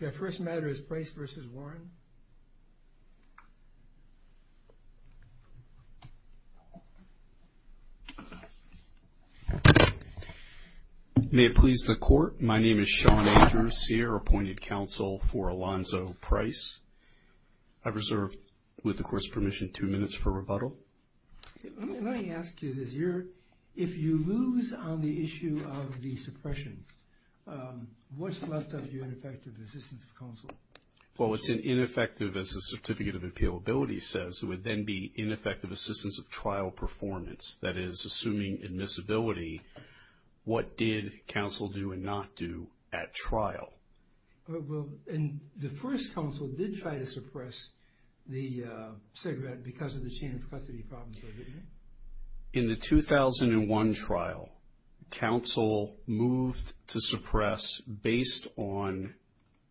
The first matter is Price v. Warren. May it please the court, my name is Sean Andrews, CAIR appointed counsel for Alonzo Price. I reserve, with the court's permission, two minutes for rebuttal. Let me ask you this. If you lose on the issue of the suppression, what's left of your ineffective assistance of counsel? Well, it's an ineffective, as the Certificate of Appealability says, it would then be ineffective assistance of trial performance. That is, assuming admissibility, what did counsel do and not do at trial? Well, and the first counsel did try to suppress the cigarette because of the chain of custody problems. In the 2001 trial, counsel moved to suppress based on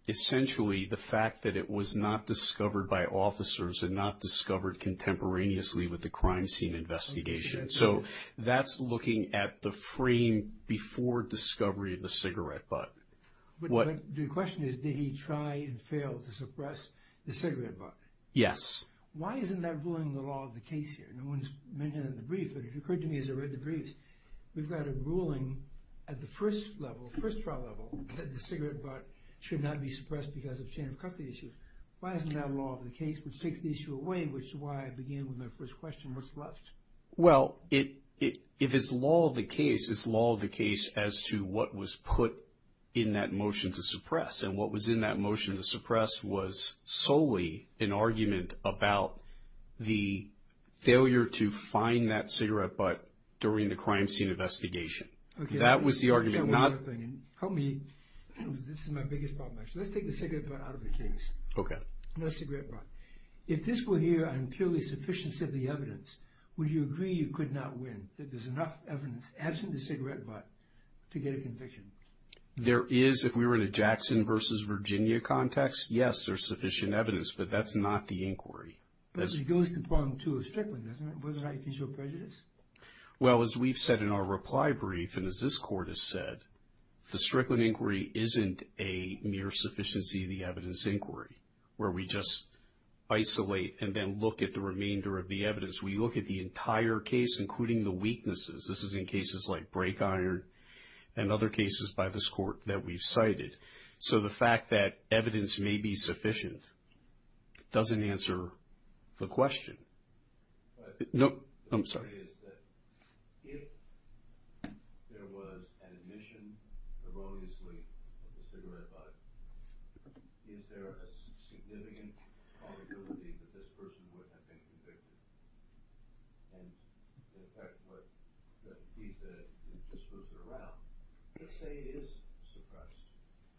essentially the fact that it was not discovered by officers and not discovered contemporaneously with the crime scene investigation. So that's looking at the frame before discovery of the cigarette butt. But the question is, did he try and fail to suppress the cigarette butt? Yes. Why isn't that ruling the law of the case here? No one's mentioned it in the brief, but it occurred to me as I read the briefs, we've got a ruling at the first level, first trial level, that the cigarette butt should not be suppressed because of chain of custody issues. Why isn't that law of the case, which takes the issue away, which is why I began with my first question, what's left? Well, if it's law of the case, it's law of the case as to what was put in that motion to suppress. And what was in that motion to suppress was solely an argument about the failure to find that cigarette butt during the crime scene investigation. Okay. That was the argument. I'll tell you one other thing. Help me. This is my biggest problem, actually. Let's take the cigarette butt out of the case. Okay. The cigarette butt. If this were here on purely sufficiency of the evidence, would you agree you could not win, that there's enough evidence absent the cigarette butt to get a conviction? There is. If we were in a Jackson versus Virginia context, yes, there's sufficient evidence. But that's not the inquiry. But it goes to part two of Strickland, doesn't it? Wasn't it official prejudice? Well, as we've said in our reply brief and as this Court has said, the Strickland inquiry isn't a mere sufficiency of the evidence inquiry, where we just isolate and then look at the remainder of the evidence. We look at the entire case, including the weaknesses. This is in cases like Brake Iron and other cases by this Court that we've cited. So the fact that evidence may be sufficient doesn't answer the question. Nope. I'm sorry. If there was an admission erroneously of the cigarette butt, is there a significant probability that this person would have been convicted? And the fact that the piece is disrupted around. Let's say it is suppressed,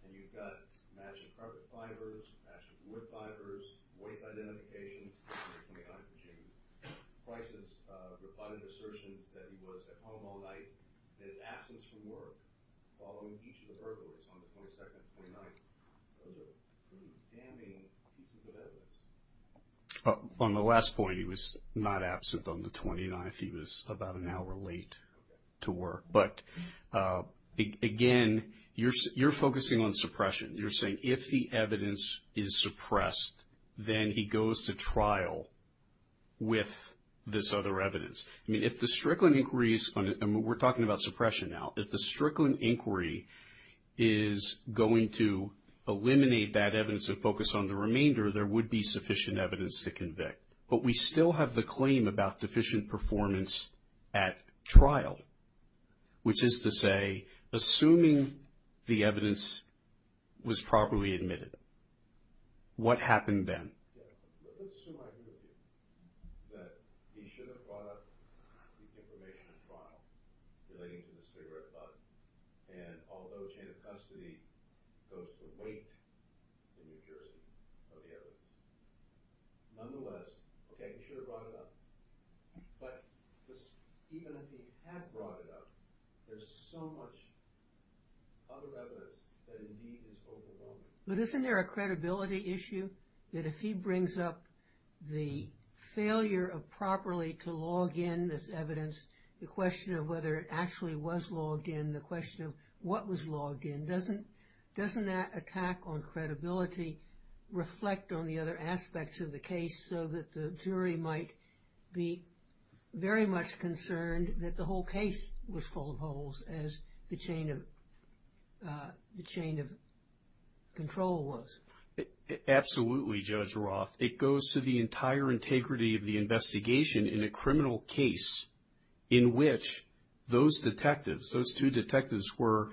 and you've got matching carpet fibers, matching wood fibers, voice identification, and the 29th Virginia crisis, rebutted assertions that he was at home all night, and his absence from work following each of the burglars on the 22nd and 29th, are they damning pieces of evidence? On the last point, he was not absent on the 29th. He was about an hour late to work. But, again, you're focusing on suppression. You're saying if the evidence is suppressed, then he goes to trial with this other evidence. I mean, if the Strickland inquiries, and we're talking about suppression now, if the Strickland inquiry is going to eliminate that evidence and focus on the remainder, there would be sufficient evidence to convict. But we still have the claim about deficient performance at trial, which is to say, assuming the evidence was properly admitted, what happened then? There's so much other evidence that, indeed, is overwhelming. The case was full of holes, as the chain of control was. Absolutely, Judge Roth. It goes to the entire integrity of the investigation in a criminal case, in which those detectives, those two detectives, were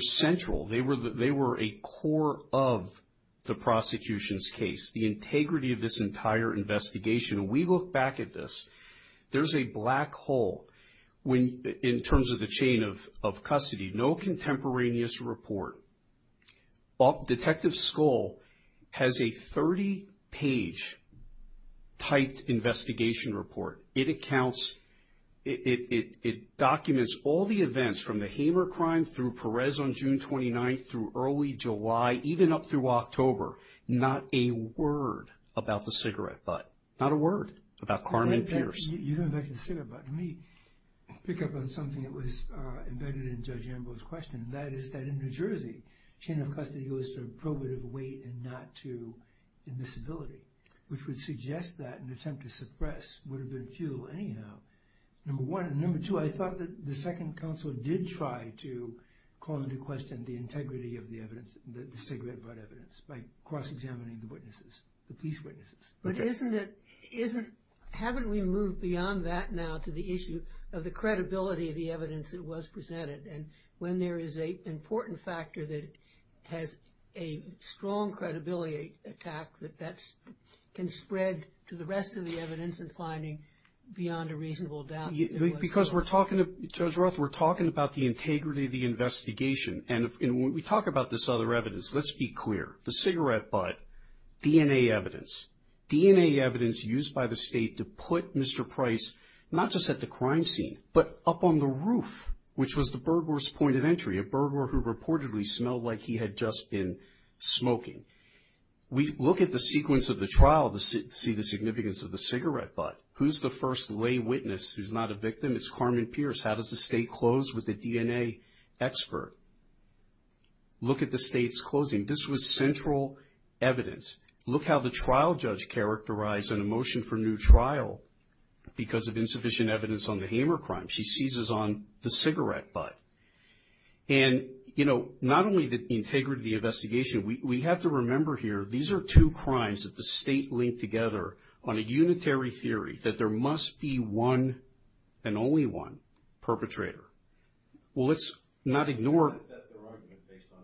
central. They were a core of the prosecution's case, the integrity of this entire investigation. We look back at this. There's a black hole in terms of the chain of custody. No contemporaneous report. Detective Skoll has a 30-page typed investigation report. It documents all the events from the Hamer crime through Perez on June 29th through early July, even up through October. Not a word about the cigarette butt. Not a word about Carmen Pierce. You don't mention the cigarette butt. Let me pick up on something that was embedded in Judge Ambrose's question, and that is that in New Jersey, chain of custody goes to probative weight and not to admissibility, which would suggest that an attempt to suppress would have been futile anyhow, number one. And number two, I thought that the Second Counsel did try to call into question the integrity of the evidence, the cigarette butt evidence, by cross-examining the witnesses, the police witnesses. But isn't it, haven't we moved beyond that now to the issue of the credibility of the evidence that was presented? And when there is an important factor that has a strong credibility attack, that that can spread to the rest of the evidence and finding beyond a reasonable doubt that there was. Because we're talking, Judge Roth, we're talking about the integrity of the investigation. And when we talk about this other evidence, let's be clear. The cigarette butt, DNA evidence. DNA evidence used by the state to put Mr. Price not just at the crime scene, but up on the roof, which was the burglar's point of entry, a burglar who reportedly smelled like he had just been smoking. We look at the sequence of the trial to see the significance of the cigarette butt. Who's the first lay witness who's not a victim? It's Carmen Pierce. How does the state close with the DNA expert? Look at the state's closing. This was central evidence. Look how the trial judge characterized an emotion for new trial because of insufficient evidence on the Hamer crime. She seizes on the cigarette butt. And, you know, not only the integrity of the investigation, we have to remember here these are two crimes that the state linked together on a unitary theory that there must be one and only one perpetrator. Well, let's not ignore. That's their argument based on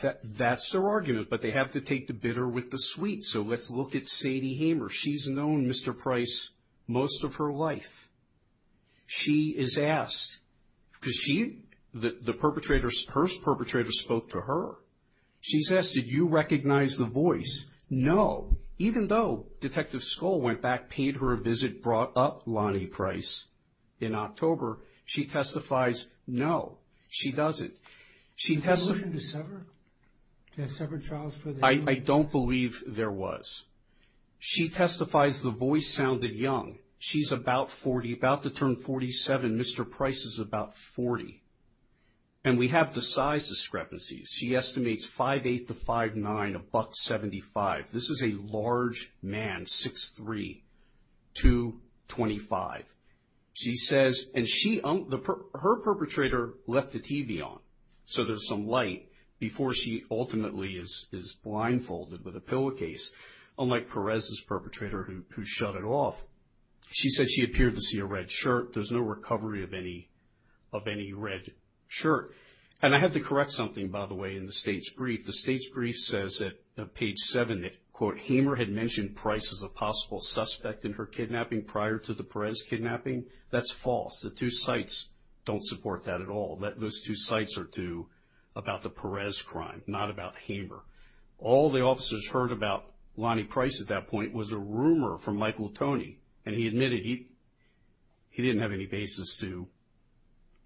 the M.O. That's their argument, but they have to take the bitter with the sweet. So let's look at Sadie Hamer. She's known Mr. Price most of her life. She is asked because she, the perpetrator, her perpetrator spoke to her. She's asked, did you recognize the voice? No. Even though Detective Skoll went back, paid her a visit, brought up Lonnie Price in October, she testifies, no, she doesn't. Did they listen to Severn? Yeah, Severn Charles. I don't believe there was. She testifies the voice sounded young. She's about 40, about to turn 47. Mr. Price is about 40. And we have the size discrepancies. She estimates 5'8"-5'9", $1.75. This is a large man, 6'3", 2'25". She says, and she, her perpetrator left the TV on, so there's some light before she ultimately is blindfolded with a pillowcase, unlike Perez's perpetrator who shut it off. She said she appeared to see a red shirt. There's no recovery of any red shirt. And I have to correct something, by the way, in the state's brief. The state's brief says at page 7 that, quote, Hamer had mentioned Price as a possible suspect in her kidnapping prior to the Perez kidnapping. That's false. The two sites don't support that at all. Those two sites are about the Perez crime, not about Hamer. All the officers heard about Lonnie Price at that point was a rumor from Michael Toney, and he admitted he didn't have any basis to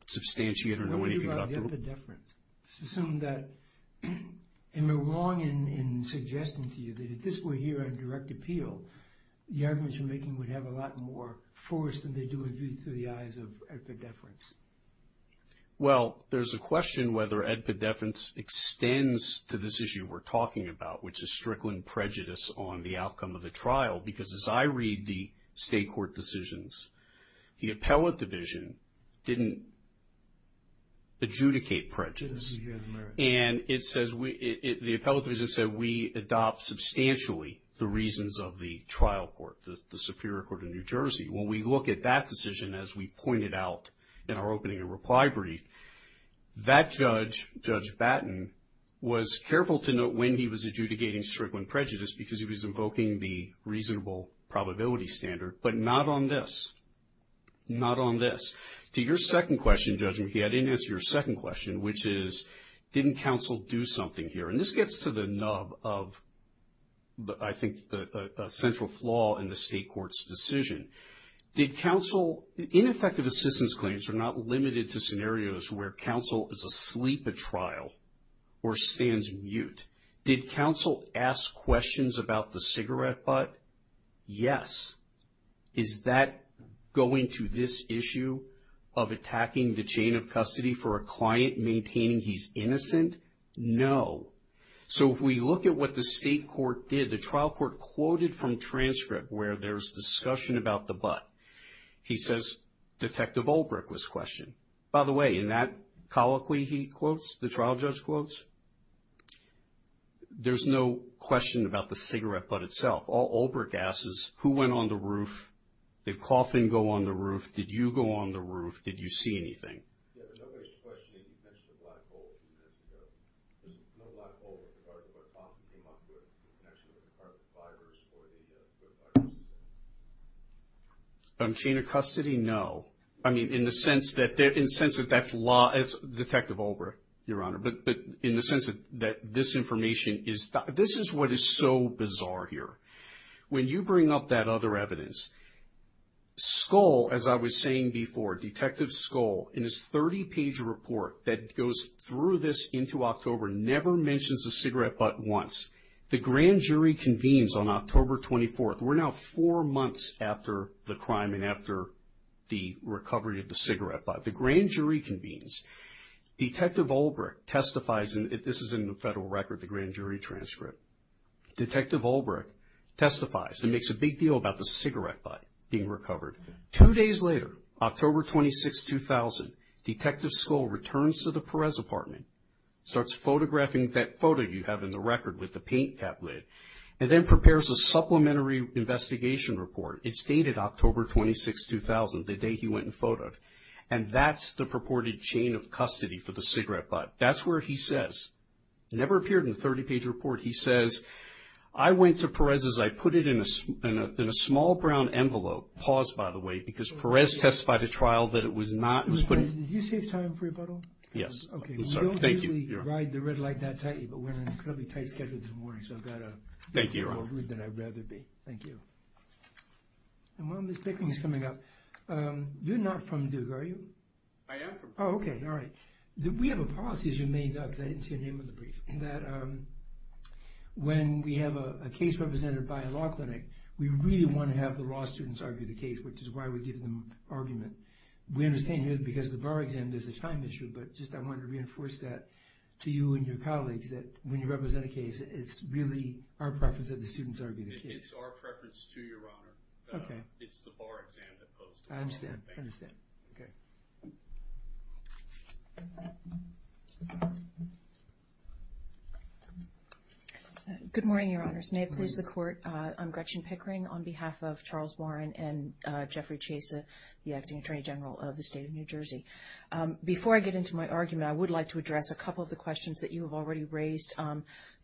substantiate or know anything about the woman. What do you think about the epidephrine? It's assumed that, and they're wrong in suggesting to you that if this were here on direct appeal, the arguments you're making would have a lot more force than they do with you through the eyes of epidephrine. Well, there's a question whether epidephrine extends to this issue we're talking about, which is Strickland prejudice on the outcome of the trial, because as I read the state court decisions, the appellate division didn't adjudicate prejudice. And the appellate division said we adopt substantially the reasons of the trial court, the Superior Court of New Jersey. When we look at that decision, as we pointed out in our opening and reply brief, that judge, Judge Batten, was careful to note when he was adjudicating Strickland prejudice because he was invoking the reasonable probability standard, but not on this. Not on this. To your second question, Judge McKee, I didn't answer your second question, which is didn't counsel do something here? And this gets to the nub of, I think, a central flaw in the state court's decision. Did counsel, ineffective assistance claims are not limited to scenarios where counsel is asleep at trial or stands mute. Did counsel ask questions about the cigarette butt? Yes. Is that going to this issue of attacking the chain of custody for a client maintaining he's innocent? No. So, if we look at what the state court did, the trial court quoted from transcript where there's discussion about the butt. He says, Detective Olbrich was questioned. By the way, in that colloquy he quotes, the trial judge quotes, there's no question about the cigarette butt itself. All Olbrich asks is, who went on the roof? Did Coffin go on the roof? Did you go on the roof? Did you see anything? Yeah, but nobody's questioning the connection to the black hole a few minutes ago. There's no black hole with regard to where Coffin came up with in connection with the carbon fibers or the purifier. On chain of custody, no. I mean, in the sense that that's law, Detective Olbrich, Your Honor, but in the sense that this information is, this is what is so bizarre here. When you bring up that other evidence, Skoll, as I was saying before, Detective Skoll, in his 30-page report that goes through this into October, never mentions the cigarette butt once. The grand jury convenes on October 24th. We're now four months after the crime and after the recovery of the cigarette butt. The grand jury convenes. Detective Olbrich testifies, and this is in the federal record, the grand jury transcript. Detective Olbrich testifies and makes a big deal about the cigarette butt being recovered. Two days later, October 26, 2000, Detective Skoll returns to the Perez apartment, starts photographing that photo you have in the record with the paint cap lid, and then prepares a supplementary investigation report. It's dated October 26, 2000, the day he went and photoed, and that's the purported chain of custody for the cigarette butt. That's where he says, never appeared in the 30-page report, he says, I went to Perez's, I put it in a small brown envelope. Pause, by the way, because Perez testified at trial that it was not, it was put in. Did you save time for rebuttal? Yes. Okay. I'm sorry. Thank you. I didn't really ride the red light that tightly, but we're on an incredibly tight schedule this morning, so I've got to be more rude than I'd rather be. Thank you. And while Ms. Bickling is coming up, you're not from Duke, are you? I am from Duke. Oh, okay. All right. We have a policy, as you may know, because I didn't see your name on the brief, that when we have a case represented by a law clinic, we really want to have the law students argue the case, which is why we give them argument. We understand because the bar exam, there's a time issue, but just I wanted to reinforce that to you and your colleagues, that when you represent a case, it's really our preference that the students argue the case. It's our preference to Your Honor. Okay. It's the bar exam that goes to court. I understand. Thank you. Okay. Good morning, Your Honors. May it please the Court, I'm Gretchen Pickering. On behalf of Charles Warren and Jeffrey Chesa, the Acting Attorney General of the State of New Jersey. Before I get into my argument, I would like to address a couple of the questions that you have already raised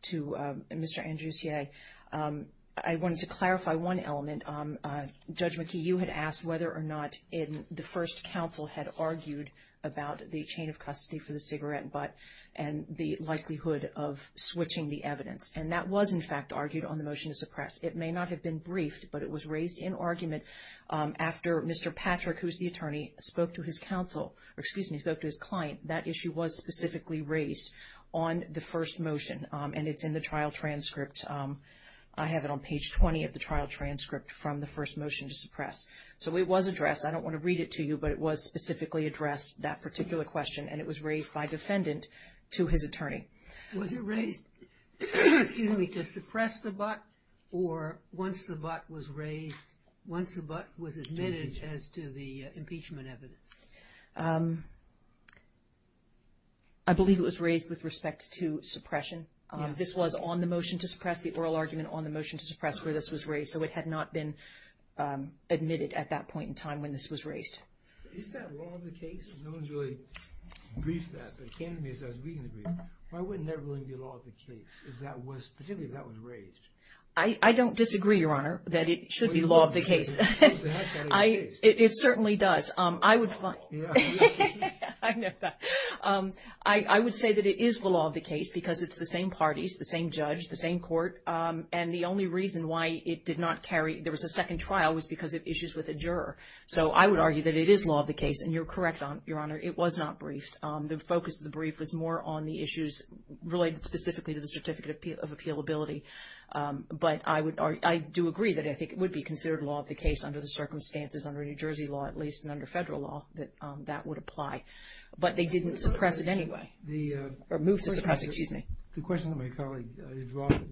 to Mr. Andrusier. I wanted to clarify one element. Judge McKee, you had asked whether or not the first counsel had argued about the chain of custody for the cigarette butt and the likelihood of switching the evidence. And that was, in fact, argued on the motion to suppress. It may not have been briefed, but it was raised in argument after Mr. Patrick, who is the attorney, spoke to his counsel, or excuse me, spoke to his client. That issue was specifically raised on the first motion, and it's in the trial transcript. I have it on page 20 of the trial transcript from the first motion to suppress. So it was addressed. I don't want to read it to you, but it was specifically addressed, that particular question, and it was raised by defendant to his attorney. Was it raised, excuse me, to suppress the butt, or once the butt was raised, once the butt was admitted as to the impeachment evidence? I believe it was raised with respect to suppression. This was on the motion to suppress, the oral argument on the motion to suppress where this was raised. So it had not been admitted at that point in time when this was raised. Is that wrong of the case? No one's really briefed that, but it came to me as I was reading the brief. Why wouldn't that really be law of the case, particularly if that was raised? I don't disagree, Your Honor, that it should be law of the case. It certainly does. I would say that it is the law of the case because it's the same parties, the same judge, the same court, and the only reason why it did not carry, there was a second trial, was because of issues with a juror. So I would argue that it is law of the case, and you're correct, Your Honor, it was not briefed. The focus of the brief was more on the issues related specifically to the Certificate of Appealability. But I do agree that I think it would be considered law of the case under the circumstances, under New Jersey law at least, and under federal law, that that would apply. But they didn't suppress it anyway, or move to suppress it. The question that my colleague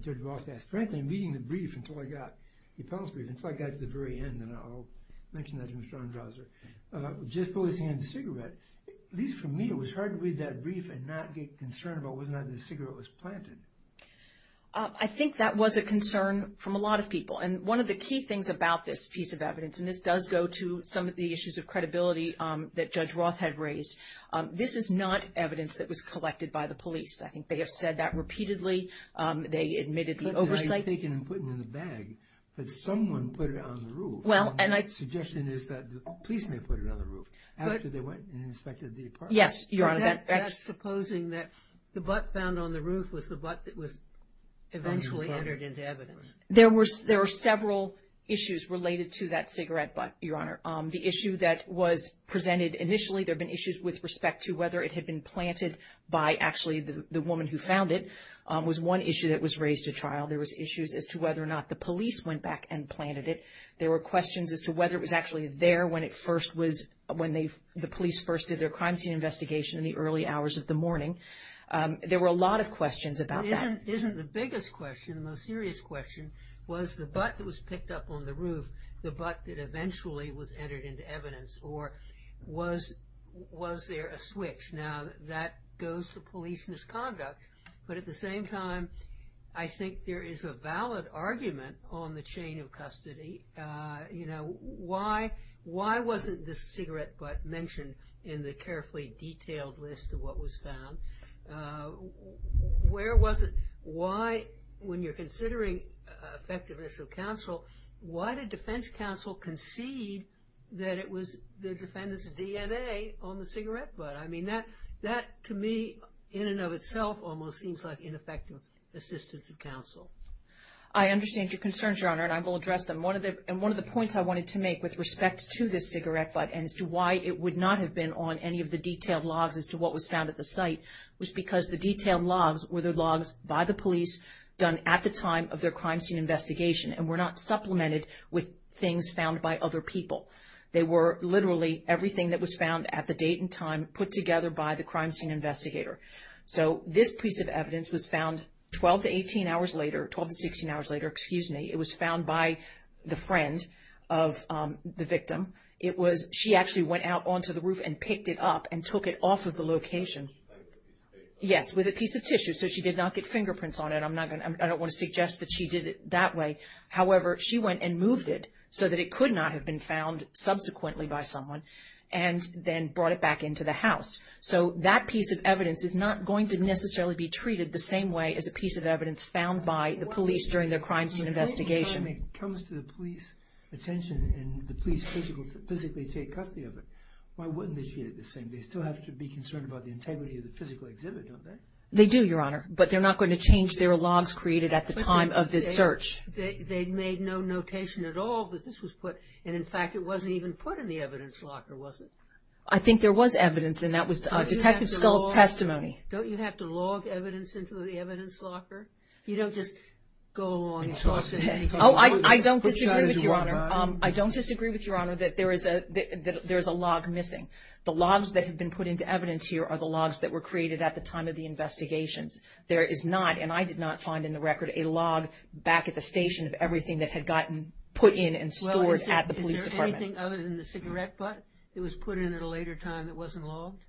Judge Roth asked, frankly, in reading the brief until I got the appellate's brief, until I got to the very end, and I'll mention that to Mr. Ondrazer, just before he was handing the cigarette, at least for me, it was hard to read that brief and not get concerned about whether or not the cigarette was planted. I think that was a concern from a lot of people. And one of the key things about this piece of evidence, and this does go to some of the issues of credibility that Judge Roth had raised, this is not evidence that was collected by the police. I think they have said that repeatedly. They admitted the oversight. It was taken and put in the bag, but someone put it on the roof. My suggestion is that the police may have put it on the roof after they went and inspected the apartment. Yes, Your Honor. That's supposing that the butt found on the roof was the butt that was eventually entered into evidence. There were several issues related to that cigarette butt, Your Honor. The issue that was presented initially, there have been issues with respect to whether it had been planted by actually the woman who found it, was one issue that was raised at trial. There was issues as to whether or not the police went back and planted it. There were questions as to whether it was actually there when the police first did their crime scene investigation in the early hours of the morning. There were a lot of questions about that. But isn't the biggest question, the most serious question, was the butt that was picked up on the roof the butt that eventually was entered into evidence, or was there a switch? Now, that goes to police misconduct. But at the same time, I think there is a valid argument on the chain of custody. You know, why wasn't the cigarette butt mentioned in the carefully detailed list of what was found? Where was it? Why, when you're considering effectiveness of counsel, why did defense counsel concede that it was the defendant's DNA on the cigarette butt? I mean, that to me, in and of itself, almost seems like ineffective assistance of counsel. I understand your concerns, Your Honor, and I will address them. And one of the points I wanted to make with respect to this cigarette butt and as to why it would not have been on any of the detailed logs as to what was found at the site was because the detailed logs were the logs by the police done at the time of their crime scene investigation and were not supplemented with things found by other people. They were literally everything that was found at the date and time put together by the crime scene investigator. So this piece of evidence was found 12 to 18 hours later, 12 to 16 hours later, excuse me, it was found by the friend of the victim. She actually went out onto the roof and picked it up and took it off of the location. Yes, with a piece of tissue. So she did not get fingerprints on it. I don't want to suggest that she did it that way. However, she went and moved it so that it could not have been found subsequently by someone and then brought it back into the house. So that piece of evidence is not going to necessarily be treated the same way as a piece of evidence found by the police during their crime scene investigation. If it comes to the police attention and the police physically take custody of it, why wouldn't they treat it the same? They still have to be concerned about the integrity of the physical exhibit, don't they? They do, Your Honor, but they're not going to change their logs created at the time of this search. They made no notation at all that this was put. And, in fact, it wasn't even put in the evidence locker, was it? I think there was evidence, and that was Detective Scull's testimony. Don't you have to log evidence into the evidence locker? You don't just go along and toss it. Oh, I don't disagree with you, Your Honor. I don't disagree with you, Your Honor, that there is a log missing. The logs that have been put into evidence here are the logs that were created at the time of the investigations. There is not, and I did not find in the record, a log back at the station of everything that had gotten put in and stored at the police department. Well, is there anything other than the cigarette butt that was put in at a later time that wasn't logged?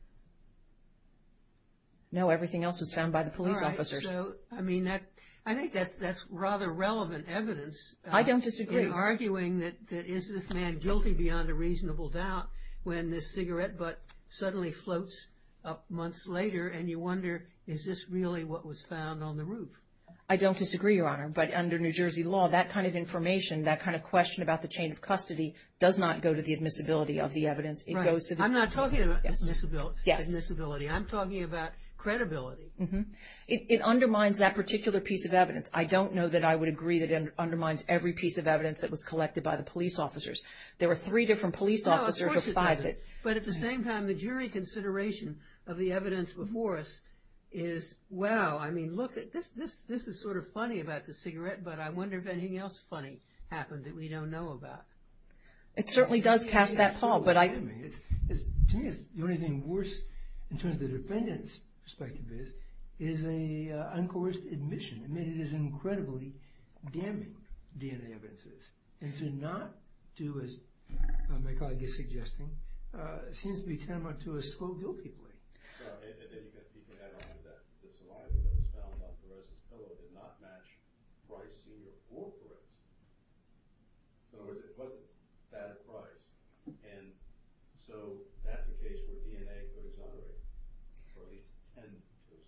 No, everything else was found by the police officers. All right. So, I mean, I think that's rather relevant evidence. I don't disagree. In arguing that is this man guilty beyond a reasonable doubt when this cigarette butt suddenly floats up months later and you wonder is this really what was found on the roof? I don't disagree, Your Honor, but under New Jersey law, that kind of information, that kind of question about the chain of custody does not go to the admissibility of the evidence. Right. I'm not talking about admissibility. I'm talking about credibility. It undermines that particular piece of evidence. I don't know that I would agree that it undermines every piece of evidence that was collected by the police officers. There were three different police officers or five. But at the same time, the jury consideration of the evidence before us is, wow, I mean, look, this is sort of funny about the cigarette, but I wonder if anything else funny happened that we don't know about. It certainly does cast that fall. To me, the only thing worse, in terms of the defendant's perspective is, is a uncoerced admission. I mean, it is incredibly damning, DNA evidence is. And to not do as Michael, I guess, is suggesting, seems to be tantamount to a slow guilty plea. And then you can add on that the saliva that was found on the rest of the pillow did not match price to the four bullets. So it wasn't bad at price. And so that's the case where DNA goes unerring, or at least 10 goes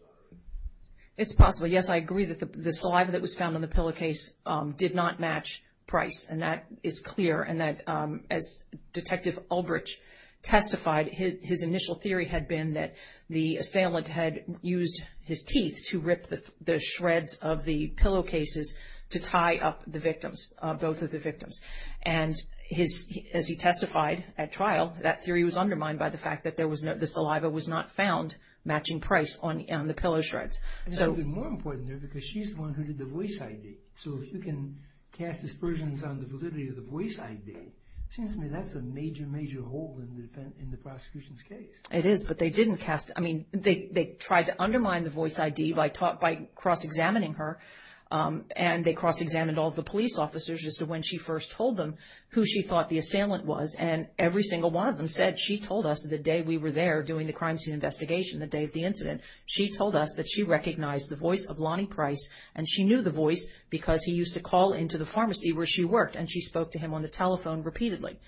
unerring. It's possible, yes, I agree that the saliva that was found on the pillow case did not match price, and that is clear. And that, as Detective Ulbrich testified, his initial theory had been that the assailant had used his teeth to rip the shreds of the pillow cases to tie up the victims, both of the victims. And as he testified at trial, that theory was undermined by the fact that there was no, the saliva was not found matching price on the pillow shreds. And something more important there, because she's the one who did the voice ID. So if you can cast aspersions on the validity of the voice ID, it seems to me that's a major, major hole in the prosecution's case. It is, but they didn't cast, I mean, they tried to undermine the voice ID by cross-examining her. And they cross-examined all the police officers as to when she first told them who she thought the assailant was. And every single one of them said, she told us the day we were there doing the crime scene investigation, the day of the incident, she told us that she recognized the voice of Lonnie Price, and she knew the voice because he used to call into the pharmacy where she worked, and she spoke to him on the telephone repeatedly.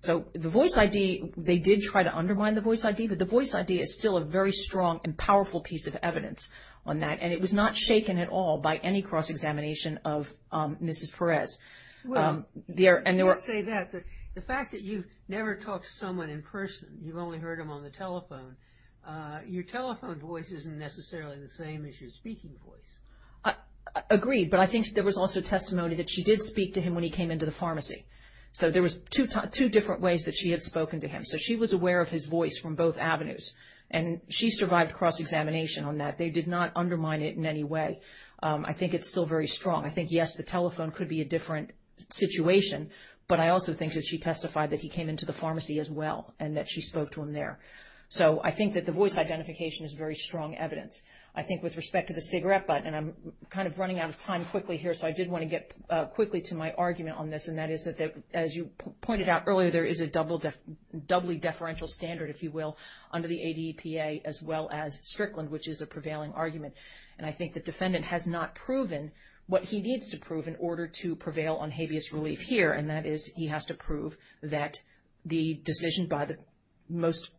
So the voice ID, they did try to undermine the voice ID, but the voice ID is still a very strong and powerful piece of evidence on that. And it was not shaken at all by any cross-examination of Mrs. Perez. Well, I will say that the fact that you never talked to someone in person, you've only heard them on the telephone, your telephone voice isn't necessarily the same as your speaking voice. Agreed, but I think there was also testimony that she did speak to him when he came into the pharmacy. So there was two different ways that she had spoken to him. So she was aware of his voice from both avenues, and she survived cross-examination on that. They did not undermine it in any way. I think it's still very strong. I think, yes, the telephone could be a different situation, but I also think that she testified that he came into the pharmacy as well and that she spoke to him there. So I think that the voice identification is very strong evidence. I think with respect to the cigarette button, and I'm kind of running out of time quickly here, so I did want to get quickly to my argument on this, and that is that, as you pointed out earlier, there is a doubly deferential standard, if you will, under the ADEPA, as well as Strickland, which is a prevailing argument. And I think the defendant has not proven what he needs to prove in order to prevail on habeas relief here, and that is he has to prove that the decision by the most,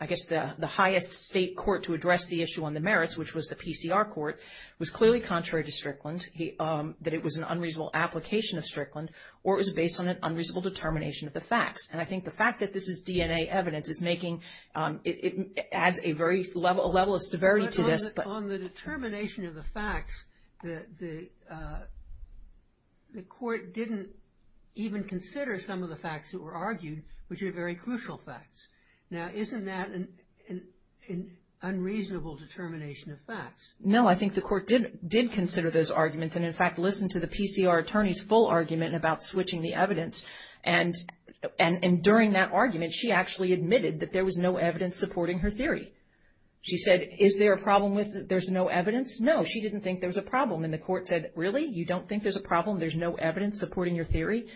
I guess the highest state court to address the issue on the merits, which was the PCR court, was clearly contrary to Strickland, that it was an unreasonable application of Strickland, or it was based on an unreasonable determination of the facts. And I think the fact that this is DNA evidence is making it adds a level of severity to this. But on the determination of the facts, the court didn't even consider some of the facts that were argued, which are very crucial facts. Now, isn't that an unreasonable determination of facts? No, I think the court did consider those arguments and, in fact, listened to the PCR attorney's full argument about switching the evidence. And during that argument, she actually admitted that there was no evidence supporting her theory. She said, is there a problem with there's no evidence? No, she didn't think there was a problem. And the court said, really, you don't think there's a problem, there's no evidence supporting your theory?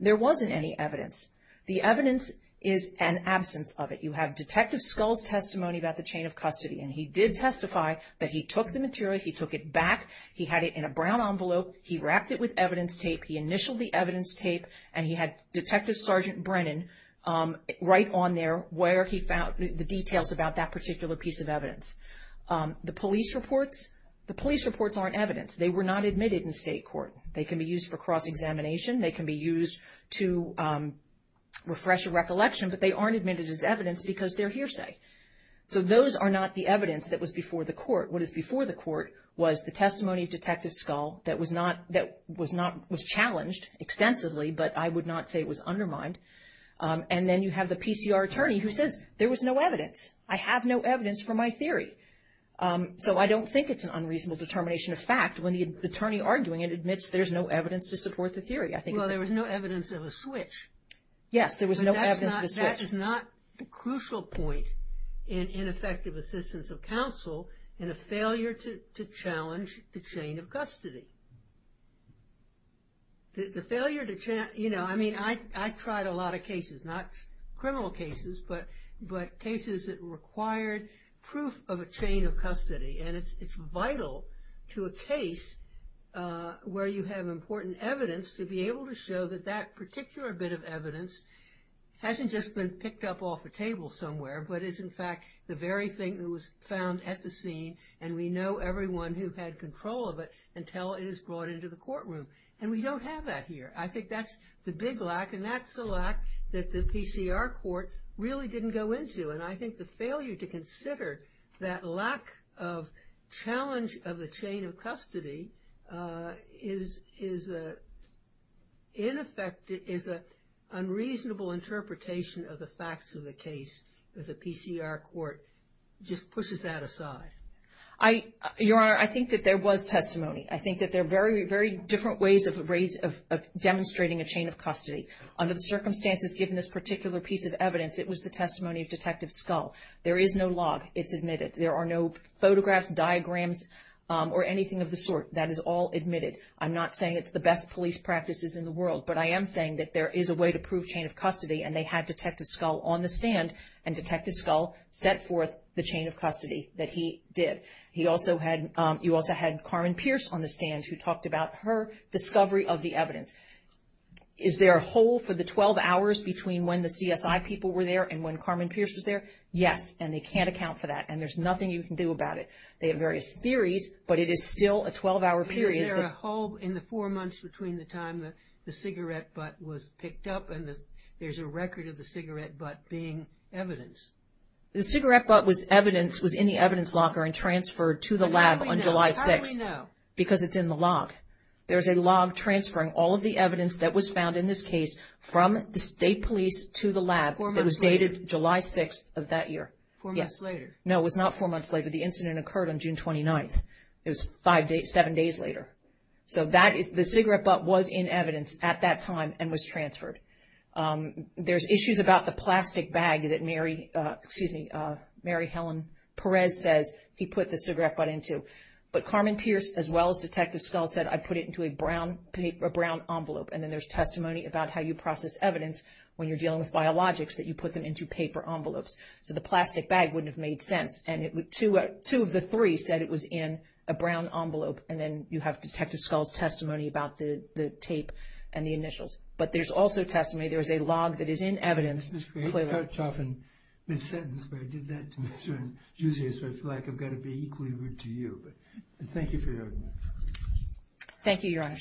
There wasn't any evidence. The evidence is an absence of it. You have Detective Scull's testimony about the chain of custody, and he did testify that he took the material, he took it back, he had it in a brown envelope, he wrapped it with evidence tape, he initialed the evidence tape, and he had Detective Sergeant Brennan write on there where he found the details about that particular piece of evidence. The police reports, the police reports aren't evidence. They were not admitted in state court. They can be used for cross-examination, they can be used to refresh a recollection, but they aren't admitted as evidence because they're hearsay. So those are not the evidence that was before the court. What is before the court was the testimony of Detective Scull that was challenged extensively, but I would not say it was undermined. And then you have the PCR attorney who says there was no evidence. I have no evidence for my theory. So I don't think it's an unreasonable determination of fact when the attorney arguing it admits there's no evidence to support the theory. Well, there was no evidence of a switch. Yes, there was no evidence of a switch. That is not the crucial point in effective assistance of counsel in a failure to challenge the chain of custody. The failure to, you know, I mean, I tried a lot of cases, not criminal cases, but cases that required proof of a chain of custody. And it's vital to a case where you have important evidence to be able to show that that particular bit of evidence hasn't just been picked up off a table somewhere, but is in fact the very thing that was found at the scene and we know everyone who had control of it until it is brought into the courtroom. And we don't have that here. I think that's the big lack, and that's the lack that the PCR court really didn't go into. And I think the failure to consider that lack of challenge of the chain of custody is an unreasonable interpretation of the facts of the case because the PCR court just pushes that aside. Your Honor, I think that there was testimony. I think that there are very, very different ways of demonstrating a chain of custody. Under the circumstances given this particular piece of evidence, it was the testimony of Detective Scull. There is no log. It's admitted. There are no photographs, diagrams, or anything of the sort. That is all admitted. I'm not saying it's the best police practices in the world, but I am saying that there is a way to prove chain of custody, and they had Detective Scull on the stand, and Detective Scull set forth the chain of custody that he did. You also had Carmen Pierce on the stand who talked about her discovery of the evidence. Is there a hole for the 12 hours between when the CSI people were there and when Carmen Pierce was there? Yes, and they can't account for that, and there's nothing you can do about it. They have various theories, but it is still a 12-hour period. Is there a hole in the four months between the time the cigarette butt was picked up and there's a record of the cigarette butt being evidence? The cigarette butt was in the evidence locker and transferred to the lab on July 6th. How do we know? Because it's in the log. There's a log transferring all of the evidence that was found in this case from the state police to the lab that was dated July 6th of that year. Four months later? No, it was not four months later. The incident occurred on June 29th. It was seven days later. So the cigarette butt was in evidence at that time and was transferred. There's issues about the plastic bag that Mary Helen Perez says he put the cigarette butt into. But Carmen Pierce, as well as Detective Skull, said, I put it into a brown envelope, and then there's testimony about how you process evidence when you're dealing with biologics that you put them into paper envelopes. So the plastic bag wouldn't have made sense, and two of the three said it was in a brown envelope and then you have Detective Skull's testimony about the tape and the initials. But there's also testimony. There is a log that is in evidence. Ms. Gray, you cut off in mid-sentence, but I did that to make sure I'm using it so I feel like I've got to be equally rude to you. But thank you for your argument. Thank you, Your Honor.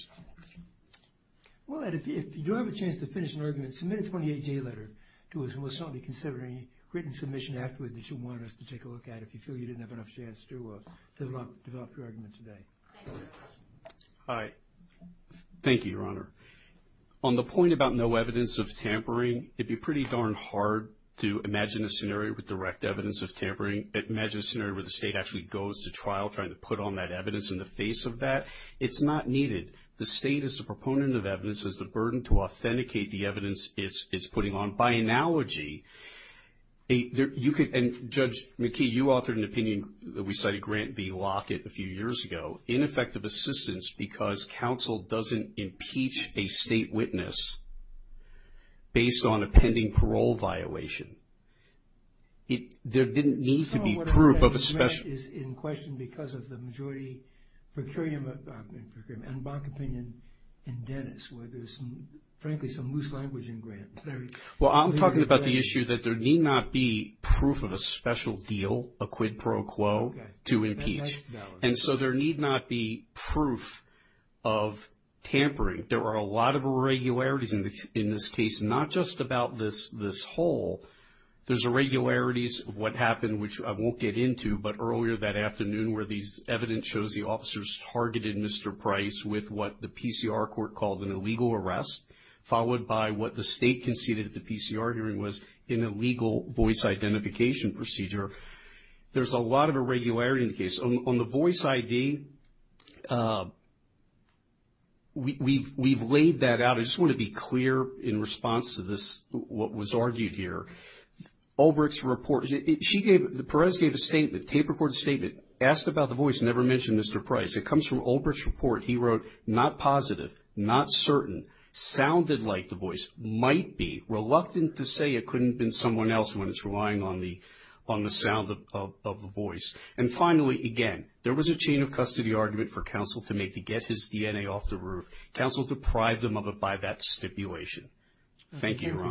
Well, Ed, if you do have a chance to finish an argument, submit a 28-day letter to us, and we'll certainly consider any written submission afterward that you want us to take a look at if you feel you didn't have enough chance to develop your argument today. Hi. Thank you, Your Honor. On the point about no evidence of tampering, it would be pretty darn hard to imagine a scenario with direct evidence of tampering. Imagine a scenario where the state actually goes to trial trying to put on that evidence in the face of that. It's not needed. The state as a proponent of evidence has the burden to authenticate the evidence it's putting on. By analogy, you could, and Judge McKee, you authored an opinion that we cited, Grant v. Lockett, a few years ago, ineffective assistance because counsel doesn't impeach a state witness based on a pending parole violation. There didn't need to be proof of a special... Some of what I said, Grant, is in question because of the majority procurement, and Bach opinion in Dennis where there's, frankly, some loose language in Grant. Well, I'm talking about the issue that there need not be proof of a special deal, a quid pro quo, to impeach. And so there need not be proof of tampering. There are a lot of irregularities in this case, not just about this hole. There's irregularities of what happened, which I won't get into, but earlier that afternoon where the evidence shows the officers targeted Mr. Price with what the PCR court called an illegal arrest, followed by what the state conceded at the PCR hearing was an illegal voice identification procedure. There's a lot of irregularity in the case. On the voice ID, we've laid that out. I just want to be clear in response to this, what was argued here. Ulbricht's report, Perez gave a statement, tape recorded statement, asked about the voice, never mentioned Mr. Price. It comes from Ulbricht's report. He wrote, not positive, not certain, sounded like the voice, might be, reluctant to say it couldn't have been someone else when it's relying on the sound of the voice. And finally, again, there was a chain of custody argument for counsel to make to get his DNA off the roof. Counsel deprived him of it by that stipulation. Thank you, Your Honor.